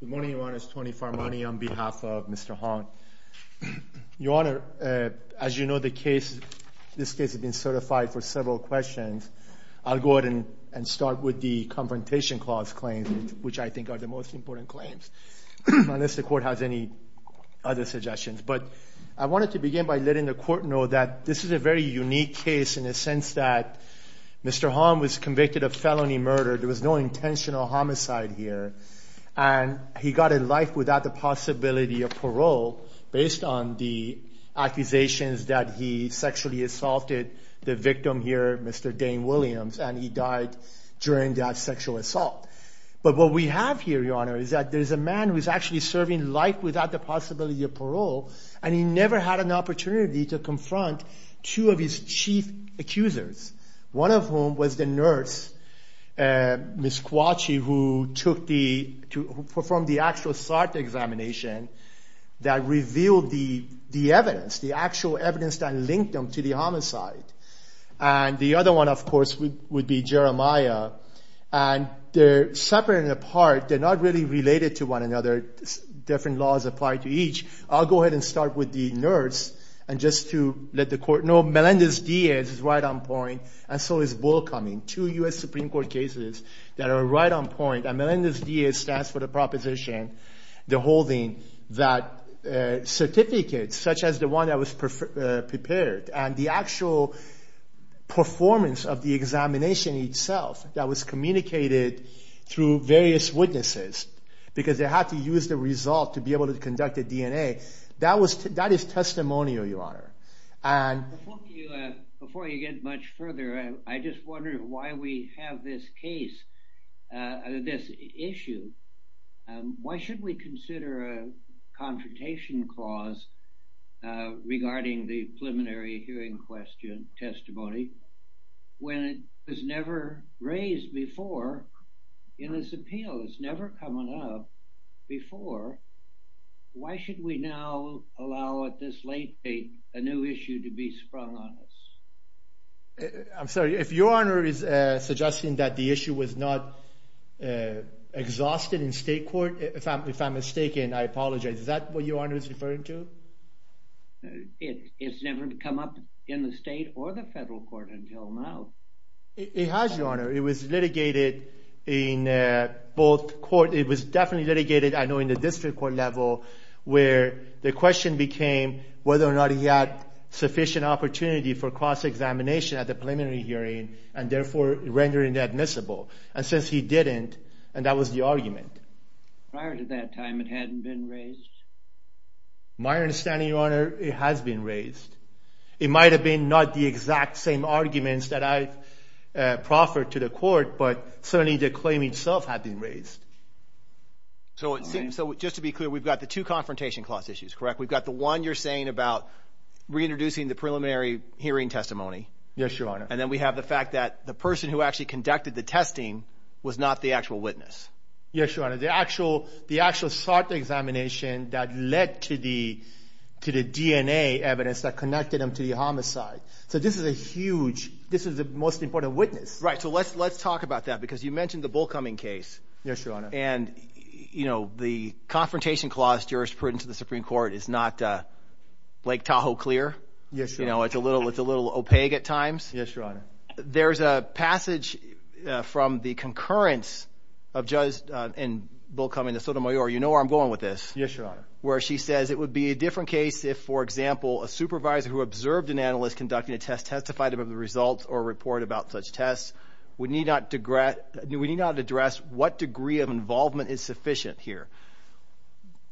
Good morning, Your Honor. It's Tony Farmani on behalf of Mr. Hahn. Your Honor, as you know, the case, this case has been certified for several questions. I'll go ahead and start with the Confrontation Clause claims, which I think are the most important claims, unless the Court has any other suggestions. But I wanted to begin by letting the Court know that this is a very unique case in the sense that Mr. Hahn was convicted of felony murder. There was no intentional homicide here, and he got a life without the possibility of parole based on the accusations that he sexually assaulted the victim here, Mr. Dane Williams, and he died during that sexual assault. But what we have here, Your Honor, is that there's a man who's actually serving life without the possibility of parole, and he never had an opportunity to confront two of his chief accusers, one of whom was the nurse, Ms. Kwachi, who took the, who performed the actual SART examination that revealed the evidence, the actual evidence that linked them to the homicide. And the other one, of course, would be Jeremiah. And they're separate and apart. They're not really related to one another. Different laws apply to each. I'll go ahead and start with the nurse. And just to let the Court know, Melendez-Diaz is right on point, and so is Bull Cumming, two U.S. Supreme Court cases that are right on point. And Melendez-Diaz stands for the proposition, the holding, that certificates such as the one that was prepared and the actual performance of the examination itself that was communicated through various witnesses, because they had to use the result to be able to conduct a DNA, that was, that is testimonial, Your Honor. And... Before you, before you get much further, I just wonder why we have this case, this issue. Why should we consider a confrontation clause regarding the preliminary hearing question, testimony, when it was never raised before in this appeal? It's never come on up before. Why should we now allow at this late date a new issue to be sprung on us? I'm sorry, if Your Honor is suggesting that the issue was not exhausted in state court, if I'm mistaken, I apologize. Is that what Your Honor is referring to? It's never come up in the state or the federal court until now. It has, Your Honor. It was litigated in both court. It was definitely litigated, I know, in the district court level where the question became whether or not he had sufficient opportunity for cross-examination at the preliminary hearing and therefore rendering it admissible. And since he didn't, and that was the argument. Prior to that time, it hadn't been raised? My understanding, Your Honor, it has been raised. It might have been not the exact same arguments that I proffered to the court, but certainly the claim itself had been raised. So it seems, so just to be clear, we've got the two confrontation clause issues, correct? We've got the one you're saying about reintroducing the preliminary hearing testimony. Yes, Your Honor. And then we have the fact that the person who actually conducted the testing was not the actual witness. Yes, Your Honor. The actual sought examination that led to the DNA evidence that connected them to the homicide. So this is a huge, this is the most important witness. Right, so let's talk about that because you mentioned the Bull Cumming case. Yes, Your Honor. And, you know, the confrontation clause jurisprudence of the Supreme Court is not Lake Tahoe clear. Yes, Your Honor. You know, it's a little opaque at times. Yes, Your Honor. There's a passage from the concurrence of Judge and Bull Cumming, the Sotomayor. You know where I'm going with this. Yes, Your Honor. Where she says it would be a different case if, for example, a supervisor who observed an analyst conducting a test testified about the results or report about such tests. We need not address what degree of involvement is sufficient here.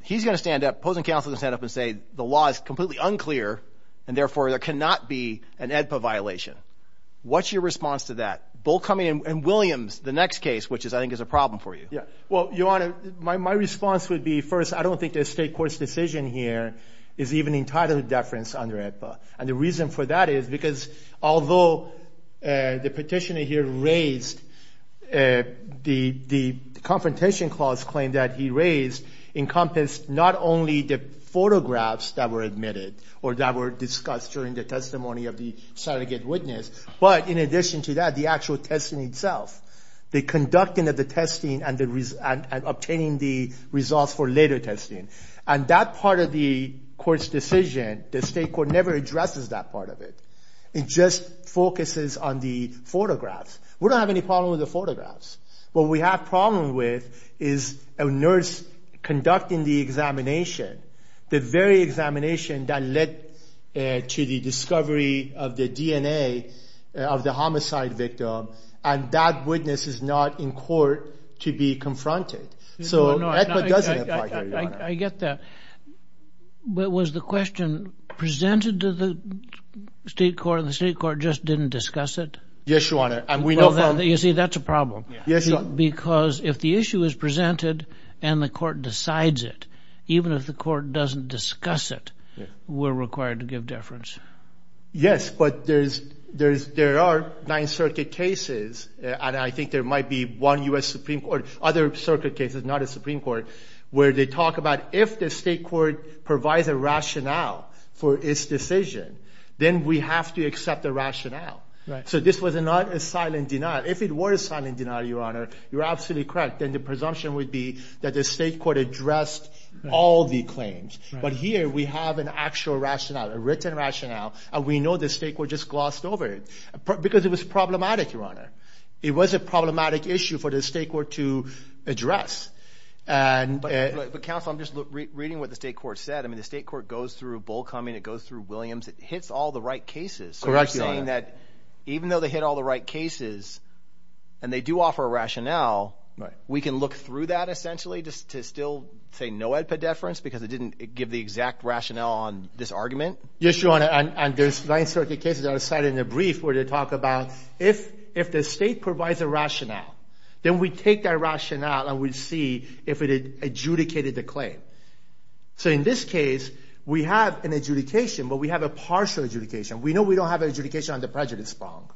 He's going to stand up, opposing counsel is going to stand up and say the law is completely unclear and therefore there cannot be an AEDPA violation. What's your response to that? Bull Cumming and Williams, the next case, which I think is a problem for you. Well, Your Honor, my response would be first, I don't think the State Court's decision here is even entitled to deference under AEDPA. And the reason for that is because although the petitioner here raised the confrontation clause claim that he raised encompassed not only the photographs that were admitted or that were discussed during the testimony of the surrogate witness, but in addition to that, the actual testing itself, the conducting of the testing and obtaining the results for later testing. And that part of the Court's decision, the State Court never addresses that part of it. It just focuses on the photographs. What we have a problem with is a nurse conducting the examination, the very examination that led to the discovery of the DNA of the homicide victim, and that witness is not in court to be confronted. So AEDPA doesn't apply here, Your Honor. I get that. But was the question presented to the State Court and the State Court just didn't discuss it? Yes, Your Honor. You see, that's a problem. Yes, Your Honor. Because if the issue is presented and the Court decides it, even if the Court doesn't discuss it, we're required to give deference. Yes, but there are nine circuit cases, and I think there might be one U.S. Supreme Court, other circuit cases, not a Supreme Court, where they talk about if the State Court provides a rationale for its decision, then we have to accept the rationale. Right. So this was not a silent denial. If it were a silent denial, Your Honor, you're absolutely correct. Then the presumption would be that the State Court addressed all the claims. Right. But here we have an actual rationale, a written rationale, and we know the State Court just glossed over it because it was problematic, Your Honor. It was a problematic issue for the State Court to address. But, Counsel, I'm just reading what the State Court said. I mean, the State Court goes through Bull Cummings. It goes through Williams. It hits all the right cases. Correct, Your Honor. So you're saying that even though they hit all the right cases and they do offer a rationale, we can look through that, essentially, to still say no edpa deference because it didn't give the exact rationale on this argument? Yes, Your Honor, and there's nine circuit cases outside in the brief where they talk about if the State provides a rationale, then we take that rationale and we see if it adjudicated the claim. So in this case, we have an adjudication, but we have a partial adjudication. We know we don't have an adjudication on the prejudice bond.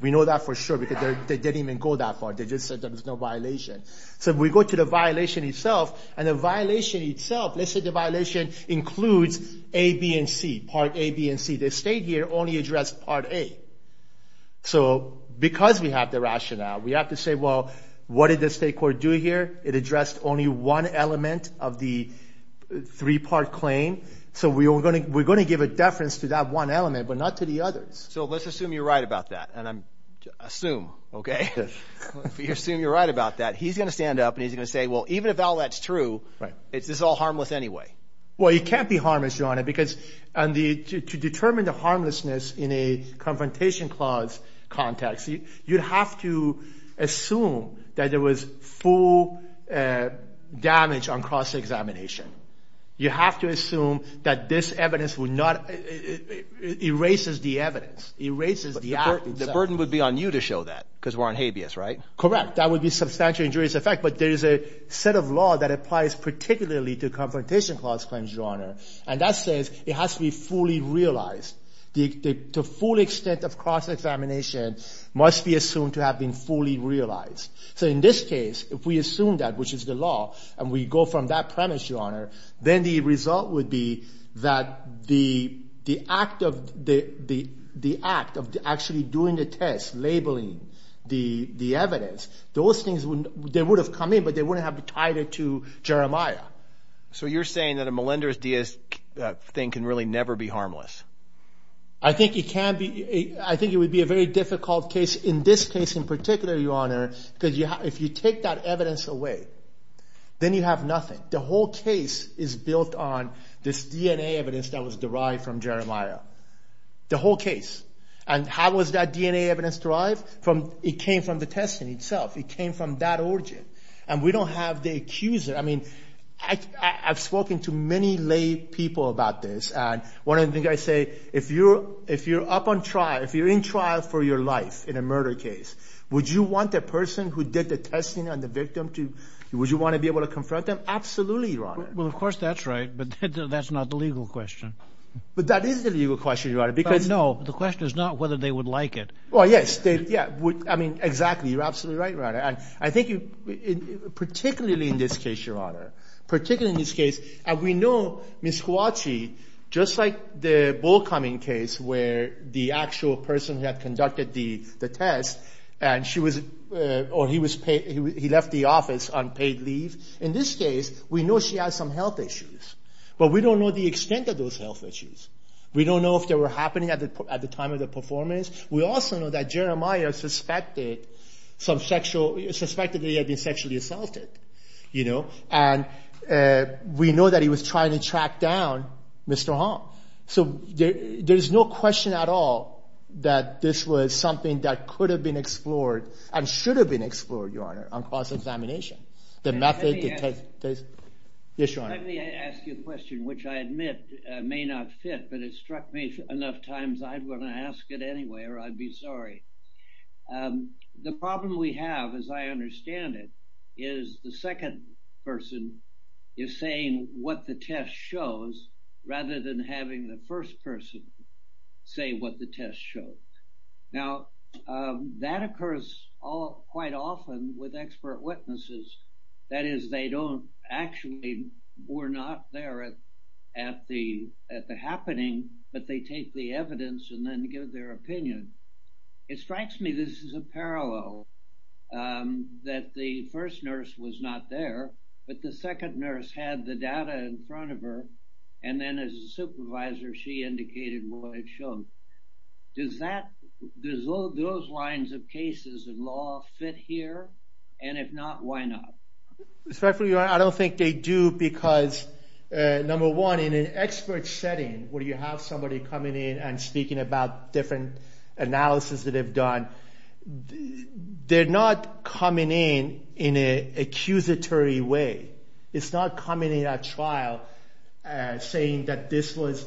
We know that for sure because they didn't even go that far. They just said there was no violation. So we go to the violation itself, and the violation itself, let's say the violation includes A, B, and C, Part A, B, and C. The State here only addressed Part A. So because we have the rationale, we have to say, well, what did the State Court do here? It addressed only one element of the three-part claim. So we're going to give a deference to that one element but not to the others. So let's assume you're right about that, and I'm assume, okay? If you assume you're right about that, he's going to stand up and he's going to say, well, even if all that's true, this is all harmless anyway. Well, it can't be harmless, Your Honor, because to determine the harmlessness in a confrontation clause context, you'd have to assume that there was full damage on cross-examination. You have to assume that this evidence would not erase the evidence, erases the act itself. But the burden would be on you to show that, because we're on habeas, right? Correct. That would be substantially injurious to the fact. But there is a set of law that applies particularly to confrontation clause claims, Your Honor, and that says it has to be fully realized. The full extent of cross-examination must be assumed to have been fully realized. So in this case, if we assume that, which is the law, and we go from that premise, Your Honor, then the result would be that the act of actually doing the test, labeling the evidence, those things, they would have come in, but they wouldn't have tied it to Jeremiah. So you're saying that a Melendrez-Diaz thing can really never be harmless? I think it can be. I think it would be a very difficult case. In this case in particular, Your Honor, if you take that evidence away, then you have nothing. The whole case is built on this DNA evidence that was derived from Jeremiah. The whole case. And how was that DNA evidence derived? It came from the testing itself. It came from that origin. And we don't have the accuser. I mean, I've spoken to many lay people about this. And one of the things I say, if you're up on trial, if you're in trial for your life in a murder case, would you want the person who did the testing on the victim, would you want to be able to confront them? Absolutely, Your Honor. Well, of course that's right. But that's not the legal question. But that is the legal question, Your Honor. No, the question is not whether they would like it. Oh, yes. Yeah. I mean, exactly. You're absolutely right, Your Honor. Particularly in this case, Your Honor. Particularly in this case. And we know Ms. Huachi, just like the bull coming case where the actual person who had conducted the test, and he left the office on paid leave. In this case, we know she has some health issues. But we don't know the extent of those health issues. We don't know if they were happening at the time of the performance. We also know that Jeremiah suspected they had been sexually assaulted. And we know that he was trying to track down Mr. Hong. So there's no question at all that this was something that could have been explored and should have been explored, Your Honor, on cross-examination. The method. Let me ask you a question, which I admit may not fit, but it struck me enough times I'd want to ask it anyway, or I'd be sorry. The problem we have, as I understand it, is the second person is saying what the test shows, rather than having the first person say what the test shows. Now, that occurs quite often with expert witnesses. That is, they actually were not there at the happening, but they take the evidence and then give their opinion. It strikes me this is a parallel, that the first nurse was not there, but the second nurse had the data in front of her, and then as a supervisor she indicated what it showed. Does those lines of cases of law fit here? And if not, why not? Respectfully, Your Honor, I don't think they do because, number one, in an expert setting where you have somebody coming in and speaking about different analysis that they've done, they're not coming in in an accusatory way. It's not coming in at trial saying that this was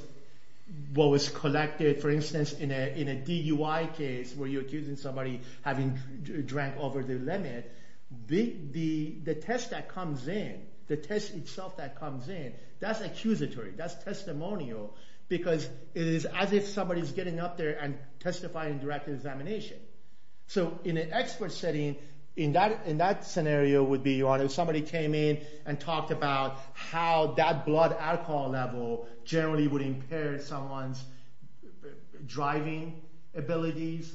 what was collected. For instance, in a DUI case where you're accusing somebody having drank over the limit, the test that comes in, the test itself that comes in, that's accusatory, that's testimonial, because it is as if somebody's getting up there and testifying in direct examination. So in an expert setting, in that scenario, somebody came in and talked about how that blood alcohol level generally would impair someone's driving abilities,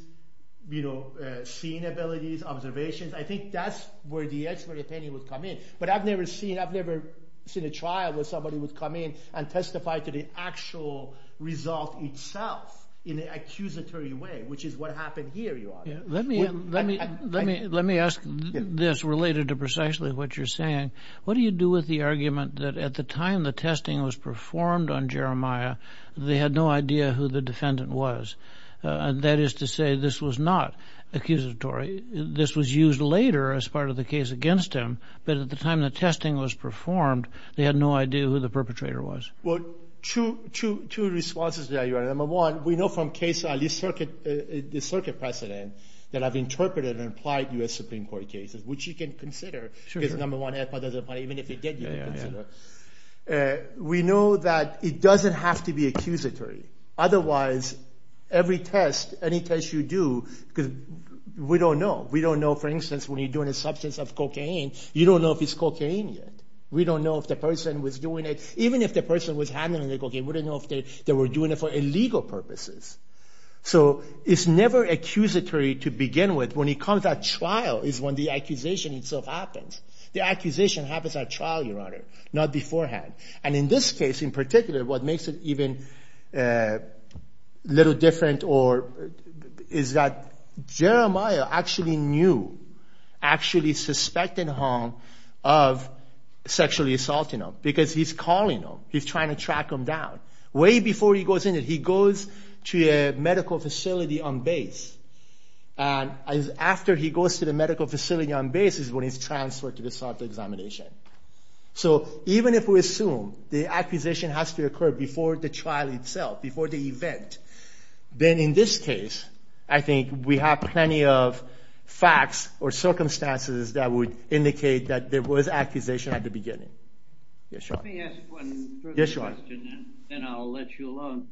seeing abilities, observations. I think that's where the expert opinion would come in. But I've never seen a trial where somebody would come in and testify to the actual result itself in an accusatory way, which is what happened here, Your Honor. Let me ask this related to precisely what you're saying. What do you do with the argument that at the time the testing was performed on Jeremiah, they had no idea who the defendant was? That is to say this was not accusatory. This was used later as part of the case against him, but at the time the testing was performed, they had no idea who the perpetrator was. Well, two responses to that, Your Honor. Number one, we know from the circuit precedent that I've interpreted and applied U.S. Supreme Court cases, which you can consider because number one, even if it did, you can consider. We know that it doesn't have to be accusatory. Otherwise, every test, any test you do, because we don't know. We don't know, for instance, when you're doing a substance of cocaine, you don't know if it's cocaine yet. We don't know if the person was doing it. Even if the person was handling the cocaine, we don't know if they were doing it for illegal purposes. So it's never accusatory to begin with. When it comes at trial is when the accusation itself happens. The accusation happens at trial, Your Honor, not beforehand. And in this case in particular, what makes it even a little different is that Jeremiah actually knew, actually suspected Hong of sexually assaulting him because he's calling him. He's trying to track him down. Way before he goes in, he goes to a medical facility on base. And after he goes to the medical facility on base is when he's transferred to the soft examination. So even if we assume the accusation has to occur before the trial itself, before the event, then in this case, I think we have plenty of facts or circumstances that would indicate that there was accusation at the beginning. Yes, Your Honor. Let me ask one further question, and then I'll let you alone.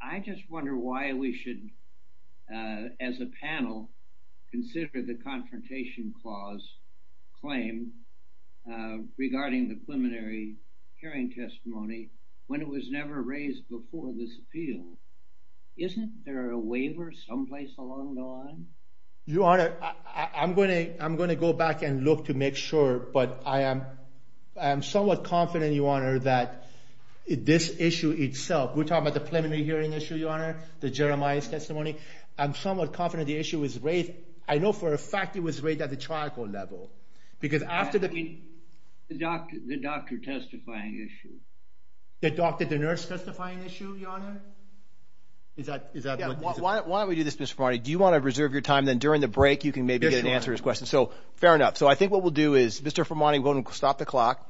I just wonder why we should, as a panel, consider the Confrontation Clause claim regarding the preliminary hearing testimony when it was never raised before this appeal. Isn't there a waiver someplace along the line? Your Honor, I'm going to go back and look to make sure, but I am somewhat confident, Your Honor, that this issue itself, we're talking about the preliminary hearing issue, Your Honor, the Jeremiah's testimony. I'm somewhat confident the issue was raised. I know for a fact it was raised at the trial court level. The doctor testifying issue. The doctor, the nurse testifying issue, Your Honor. Why don't we do this, Mr. Farney? Do you want to reserve your time, then during the break you can maybe get an answer to this question. So fair enough. So I think what we'll do is, Mr. Farney, we're going to stop the clock.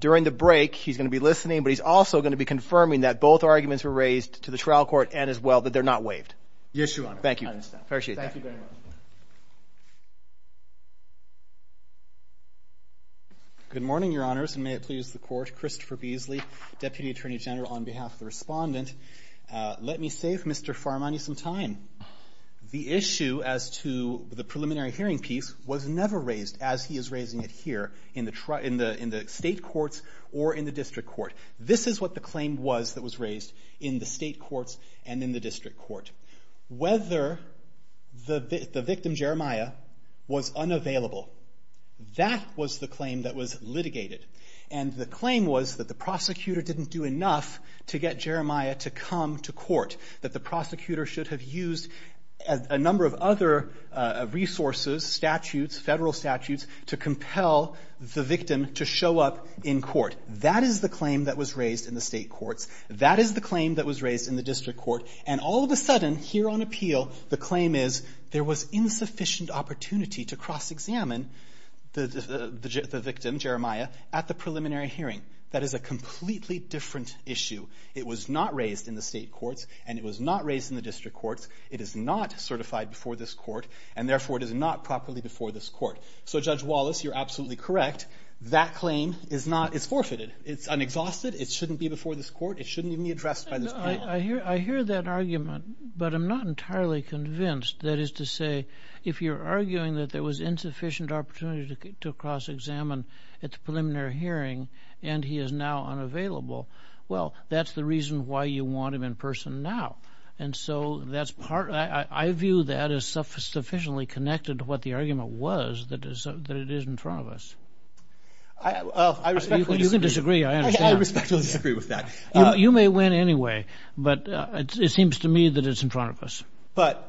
During the break he's going to be listening, but he's also going to be confirming that both arguments were raised to the trial court and as well that they're not waived. Yes, Your Honor. Thank you. I understand. Appreciate that. Thank you very much. Good morning, Your Honors, and may it please the Court. Christopher Beasley, Deputy Attorney General on behalf of the Respondent. Let me save Mr. Farney some time. The issue as to the preliminary hearing piece was never raised as he is raising it here in the state courts or in the district court. This is what the claim was that was raised in the state courts and in the district court. Whether the victim, Jeremiah, was unavailable, that was the claim that was litigated. And the claim was that the prosecutor didn't do enough to get Jeremiah to come to court, that the prosecutor should have used a number of other resources, statutes, federal statutes, to compel the victim to show up in court. That is the claim that was raised in the state courts. That is the claim that was raised in the district court. And all of a sudden, here on appeal, the claim is there was insufficient opportunity to cross-examine the victim, Jeremiah, at the preliminary hearing. That is a completely different issue. It was not raised in the state courts, and it was not raised in the district courts. It is not certified before this court, and therefore it is not properly before this court. So Judge Wallace, you're absolutely correct. That claim is forfeited. It's unexhausted. It shouldn't be before this court. It shouldn't even be addressed by this panel. I hear that argument, but I'm not entirely convinced. That is to say, if you're arguing that there was insufficient opportunity to cross-examine at the preliminary hearing, and he is now unavailable, well, that's the reason why you want him in person now. And so that's part of it. I view that as sufficiently connected to what the argument was that it is in front of us. You can disagree. I understand. I respectfully disagree with that. You may win anyway, but it seems to me that it's in front of us.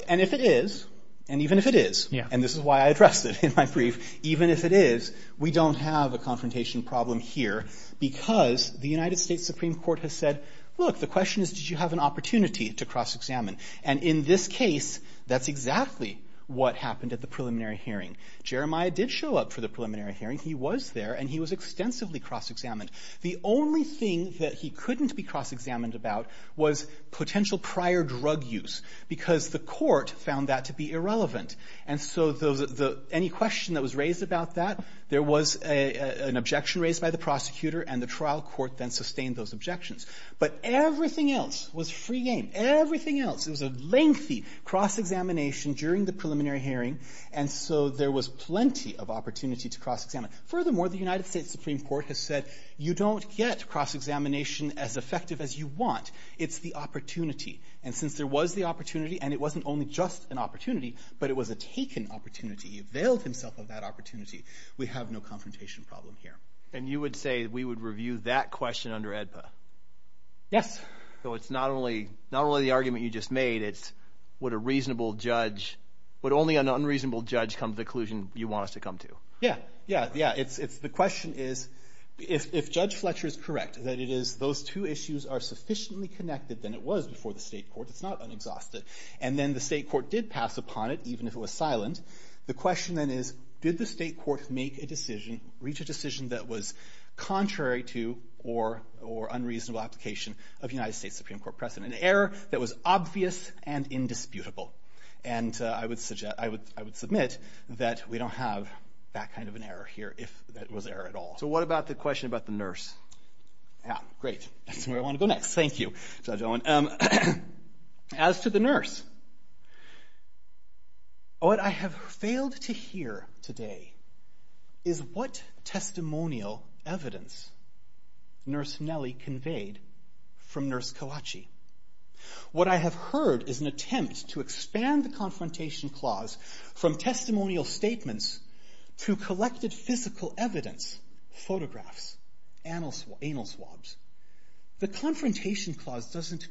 And if it is, and even if it is, and this is why I addressed it in my brief, even if it is, we don't have a confrontation problem here because the United States Supreme Court has said, look, the question is did you have an opportunity to cross-examine. And in this case, that's exactly what happened at the preliminary hearing. Jeremiah did show up for the preliminary hearing. He was there, and he was extensively cross-examined. The only thing that he couldn't be cross-examined about was potential prior drug use because the court found that to be irrelevant. And so any question that was raised about that, there was an objection raised by the prosecutor, and the trial court then sustained those objections. But everything else was free game. Everything else. It was a lengthy cross-examination during the preliminary hearing, and so there was plenty of opportunity to cross-examine. Furthermore, the United States Supreme Court has said, you don't get cross-examination as effective as you want. It's the opportunity. And since there was the opportunity, and it wasn't only just an opportunity, but it was a taken opportunity. He availed himself of that opportunity. We have no confrontation problem here. And you would say we would review that question under AEDPA? Yes. So it's not only the argument you just made, it's would a reasonable judge, would only an unreasonable judge come to the conclusion you want us to come to? Yeah. Yeah. Yeah. The question is, if Judge Fletcher is correct, that it is those two issues are sufficiently connected than it was before the state court. It's not unexhausted. And then the state court did pass upon it, even if it was silent. The question then is, did the state court make a decision, reach a decision that was contrary to or unreasonable application of United States Supreme Court precedent? An error that was obvious and indisputable. And I would submit that we don't have that kind of an error here, if that was an error at all. So what about the question about the nurse? Yeah. Great. That's where I want to go next. Thank you, Judge Owen. As to the nurse, what I have failed to hear today is what testimonial evidence Nurse Nellie conveyed from Nurse Kawachi. What I have heard is an attempt to expand the Confrontation Clause from testimonial statements to collected physical evidence, photographs, anal swabs. The Confrontation Clause doesn't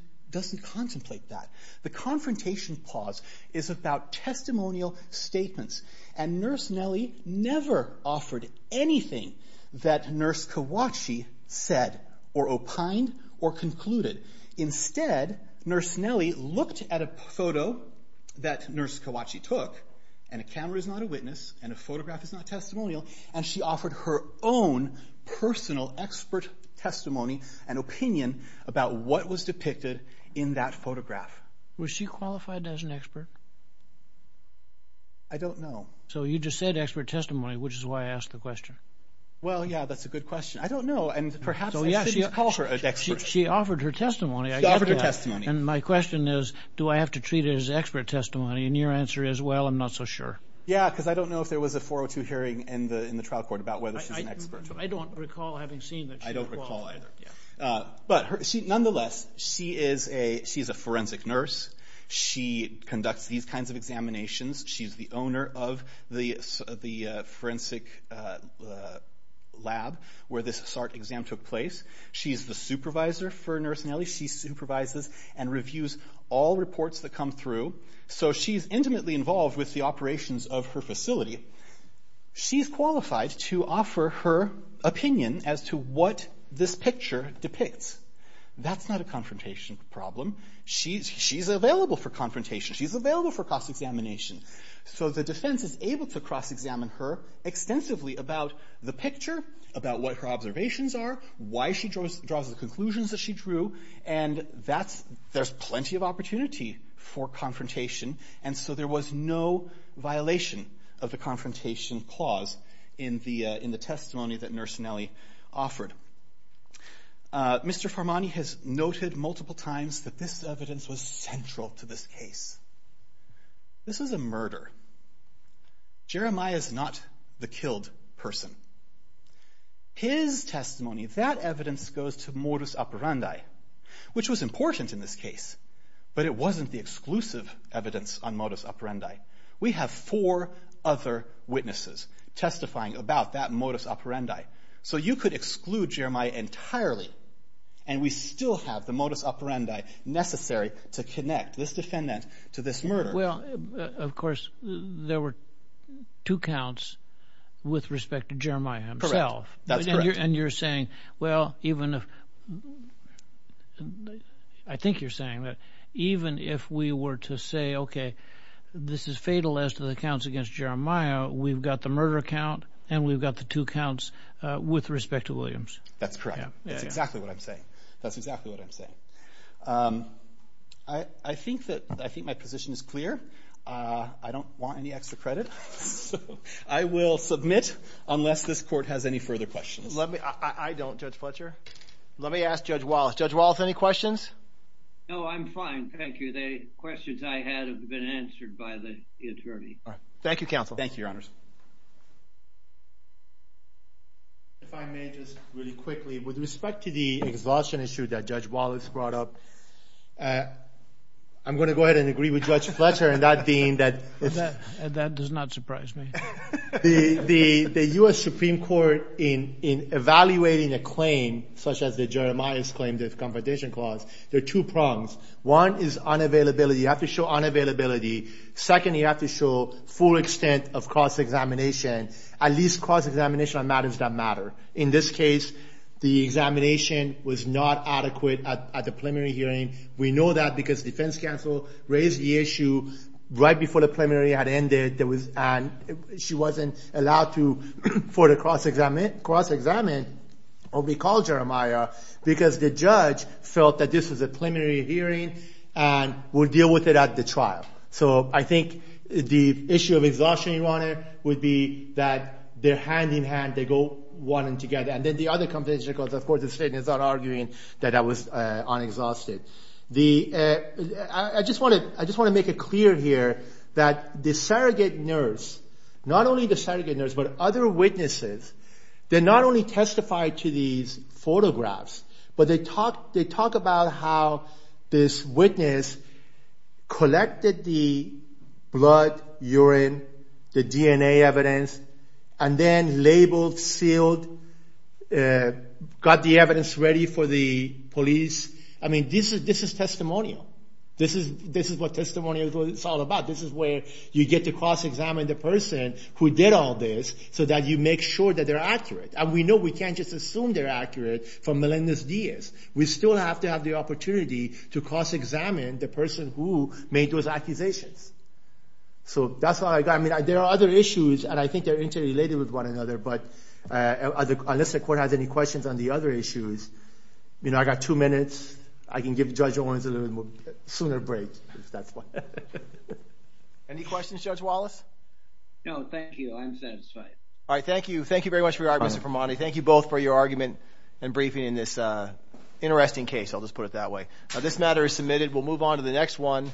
contemplate that. The Confrontation Clause is about testimonial statements. And Nurse Nellie never offered anything that Nurse Kawachi said or opined or concluded. Instead, Nurse Nellie looked at a photo that Nurse Kawachi took, and a camera is not a witness, and a photograph is not testimonial, and she offered her own personal expert testimony and opinion about what was depicted in that photograph. Was she qualified as an expert? I don't know. So you just said expert testimony, which is why I asked the question. Well, yeah, that's a good question. I don't know, and perhaps I shouldn't call her an expert. She offered her testimony. She offered her testimony. And my question is, do I have to treat it as expert testimony? And your answer is, well, I'm not so sure. Yeah, because I don't know if there was a 402 hearing in the trial court about whether she's an expert. I don't recall having seen that she was qualified. I don't recall either. But nonetheless, she is a forensic nurse. She conducts these kinds of examinations. She's the owner of the forensic lab where this SART exam took place. She's the supervisor for Nurse Nellie. She supervises and reviews all reports that come through. So she's intimately involved with the operations of her facility. She's qualified to offer her opinion as to what this picture depicts. That's not a confrontation problem. She's available for confrontation. She's available for cross-examination. So the defense is able to cross-examine her extensively about the picture, about what her observations are, why she draws the conclusions that she drew, and there's plenty of opportunity for confrontation. And so there was no violation of the confrontation clause in the testimony that Nurse Nellie offered. Mr. Farmani has noted multiple times that this evidence was central to this case. This is a murder. Jeremiah's not the killed person. His testimony, that evidence goes to modus operandi, which was important in this case, but it wasn't the exclusive evidence on modus operandi. We have four other witnesses testifying about that modus operandi. So you could exclude Jeremiah entirely, and we still have the modus operandi necessary to connect this defendant to this murder. Well, of course, there were two counts with respect to Jeremiah himself. Correct. That's correct. And you're saying, well, even if... I think you're saying that even if we were to say, okay, this is fatal as to the counts against Jeremiah, we've got the murder count and we've got the two counts with respect to Williams. That's correct. That's exactly what I'm saying. That's exactly what I'm saying. I think my position is clear. I don't want any extra credit. I will submit unless this court has any further questions. I don't, Judge Fletcher. Let me ask Judge Wallace. Judge Wallace, any questions? No, I'm fine, thank you. The questions I had have been answered by the attorney. Thank you, counsel. Thank you, Your Honors. If I may just really quickly, with respect to the exhaustion issue that Judge Wallace brought up, I'm going to go ahead and agree with Judge Fletcher in that being that... That does not surprise me. The U.S. Supreme Court, in evaluating a claim such as the Jeremiah's claim, the confrontation clause, there are two prongs. One is unavailability. You have to show unavailability. Second, you have to show full extent of cross-examination, at least cross-examination on matters that matter. In this case, the examination was not adequate at the preliminary hearing. We know that because the defense counsel raised the issue right before the preliminary had ended, and she wasn't allowed for the cross-examination, or be called Jeremiah, because the judge felt that this was a preliminary hearing and would deal with it at the trial. So I think the issue of exhaustion, Your Honor, would be that they're hand-in-hand. They go one and together. And then the other confrontation clause, of course, the state is not arguing that I was unexhausted. I just want to make it clear here that the surrogate nurse, not only the surrogate nurse, but other witnesses, they not only testified to these photographs, but they talk about how this witness collected the blood, urine, the DNA evidence, and then labeled, sealed, got the evidence ready for the police. I mean, this is testimonial. This is what testimonial is all about. This is where you get to cross-examine the person who did all this so that you make sure that they're accurate. And we know we can't just assume they're accurate from Melendez Diaz. We still have to have the opportunity to cross-examine the person who made those accusations. So that's all I've got. I mean, there are other issues, and I think they're interrelated with one another. But unless the court has any questions on the other issues, I've got two minutes. I can give Judge Owens a little sooner break. Any questions, Judge Wallace? No, thank you. I'm satisfied. All right, thank you. Thank you very much for your argument, Mr. Fermante. Thank you both for your argument and briefing in this interesting case. I'll just put it that way. This matter is submitted. We'll move on to the next one.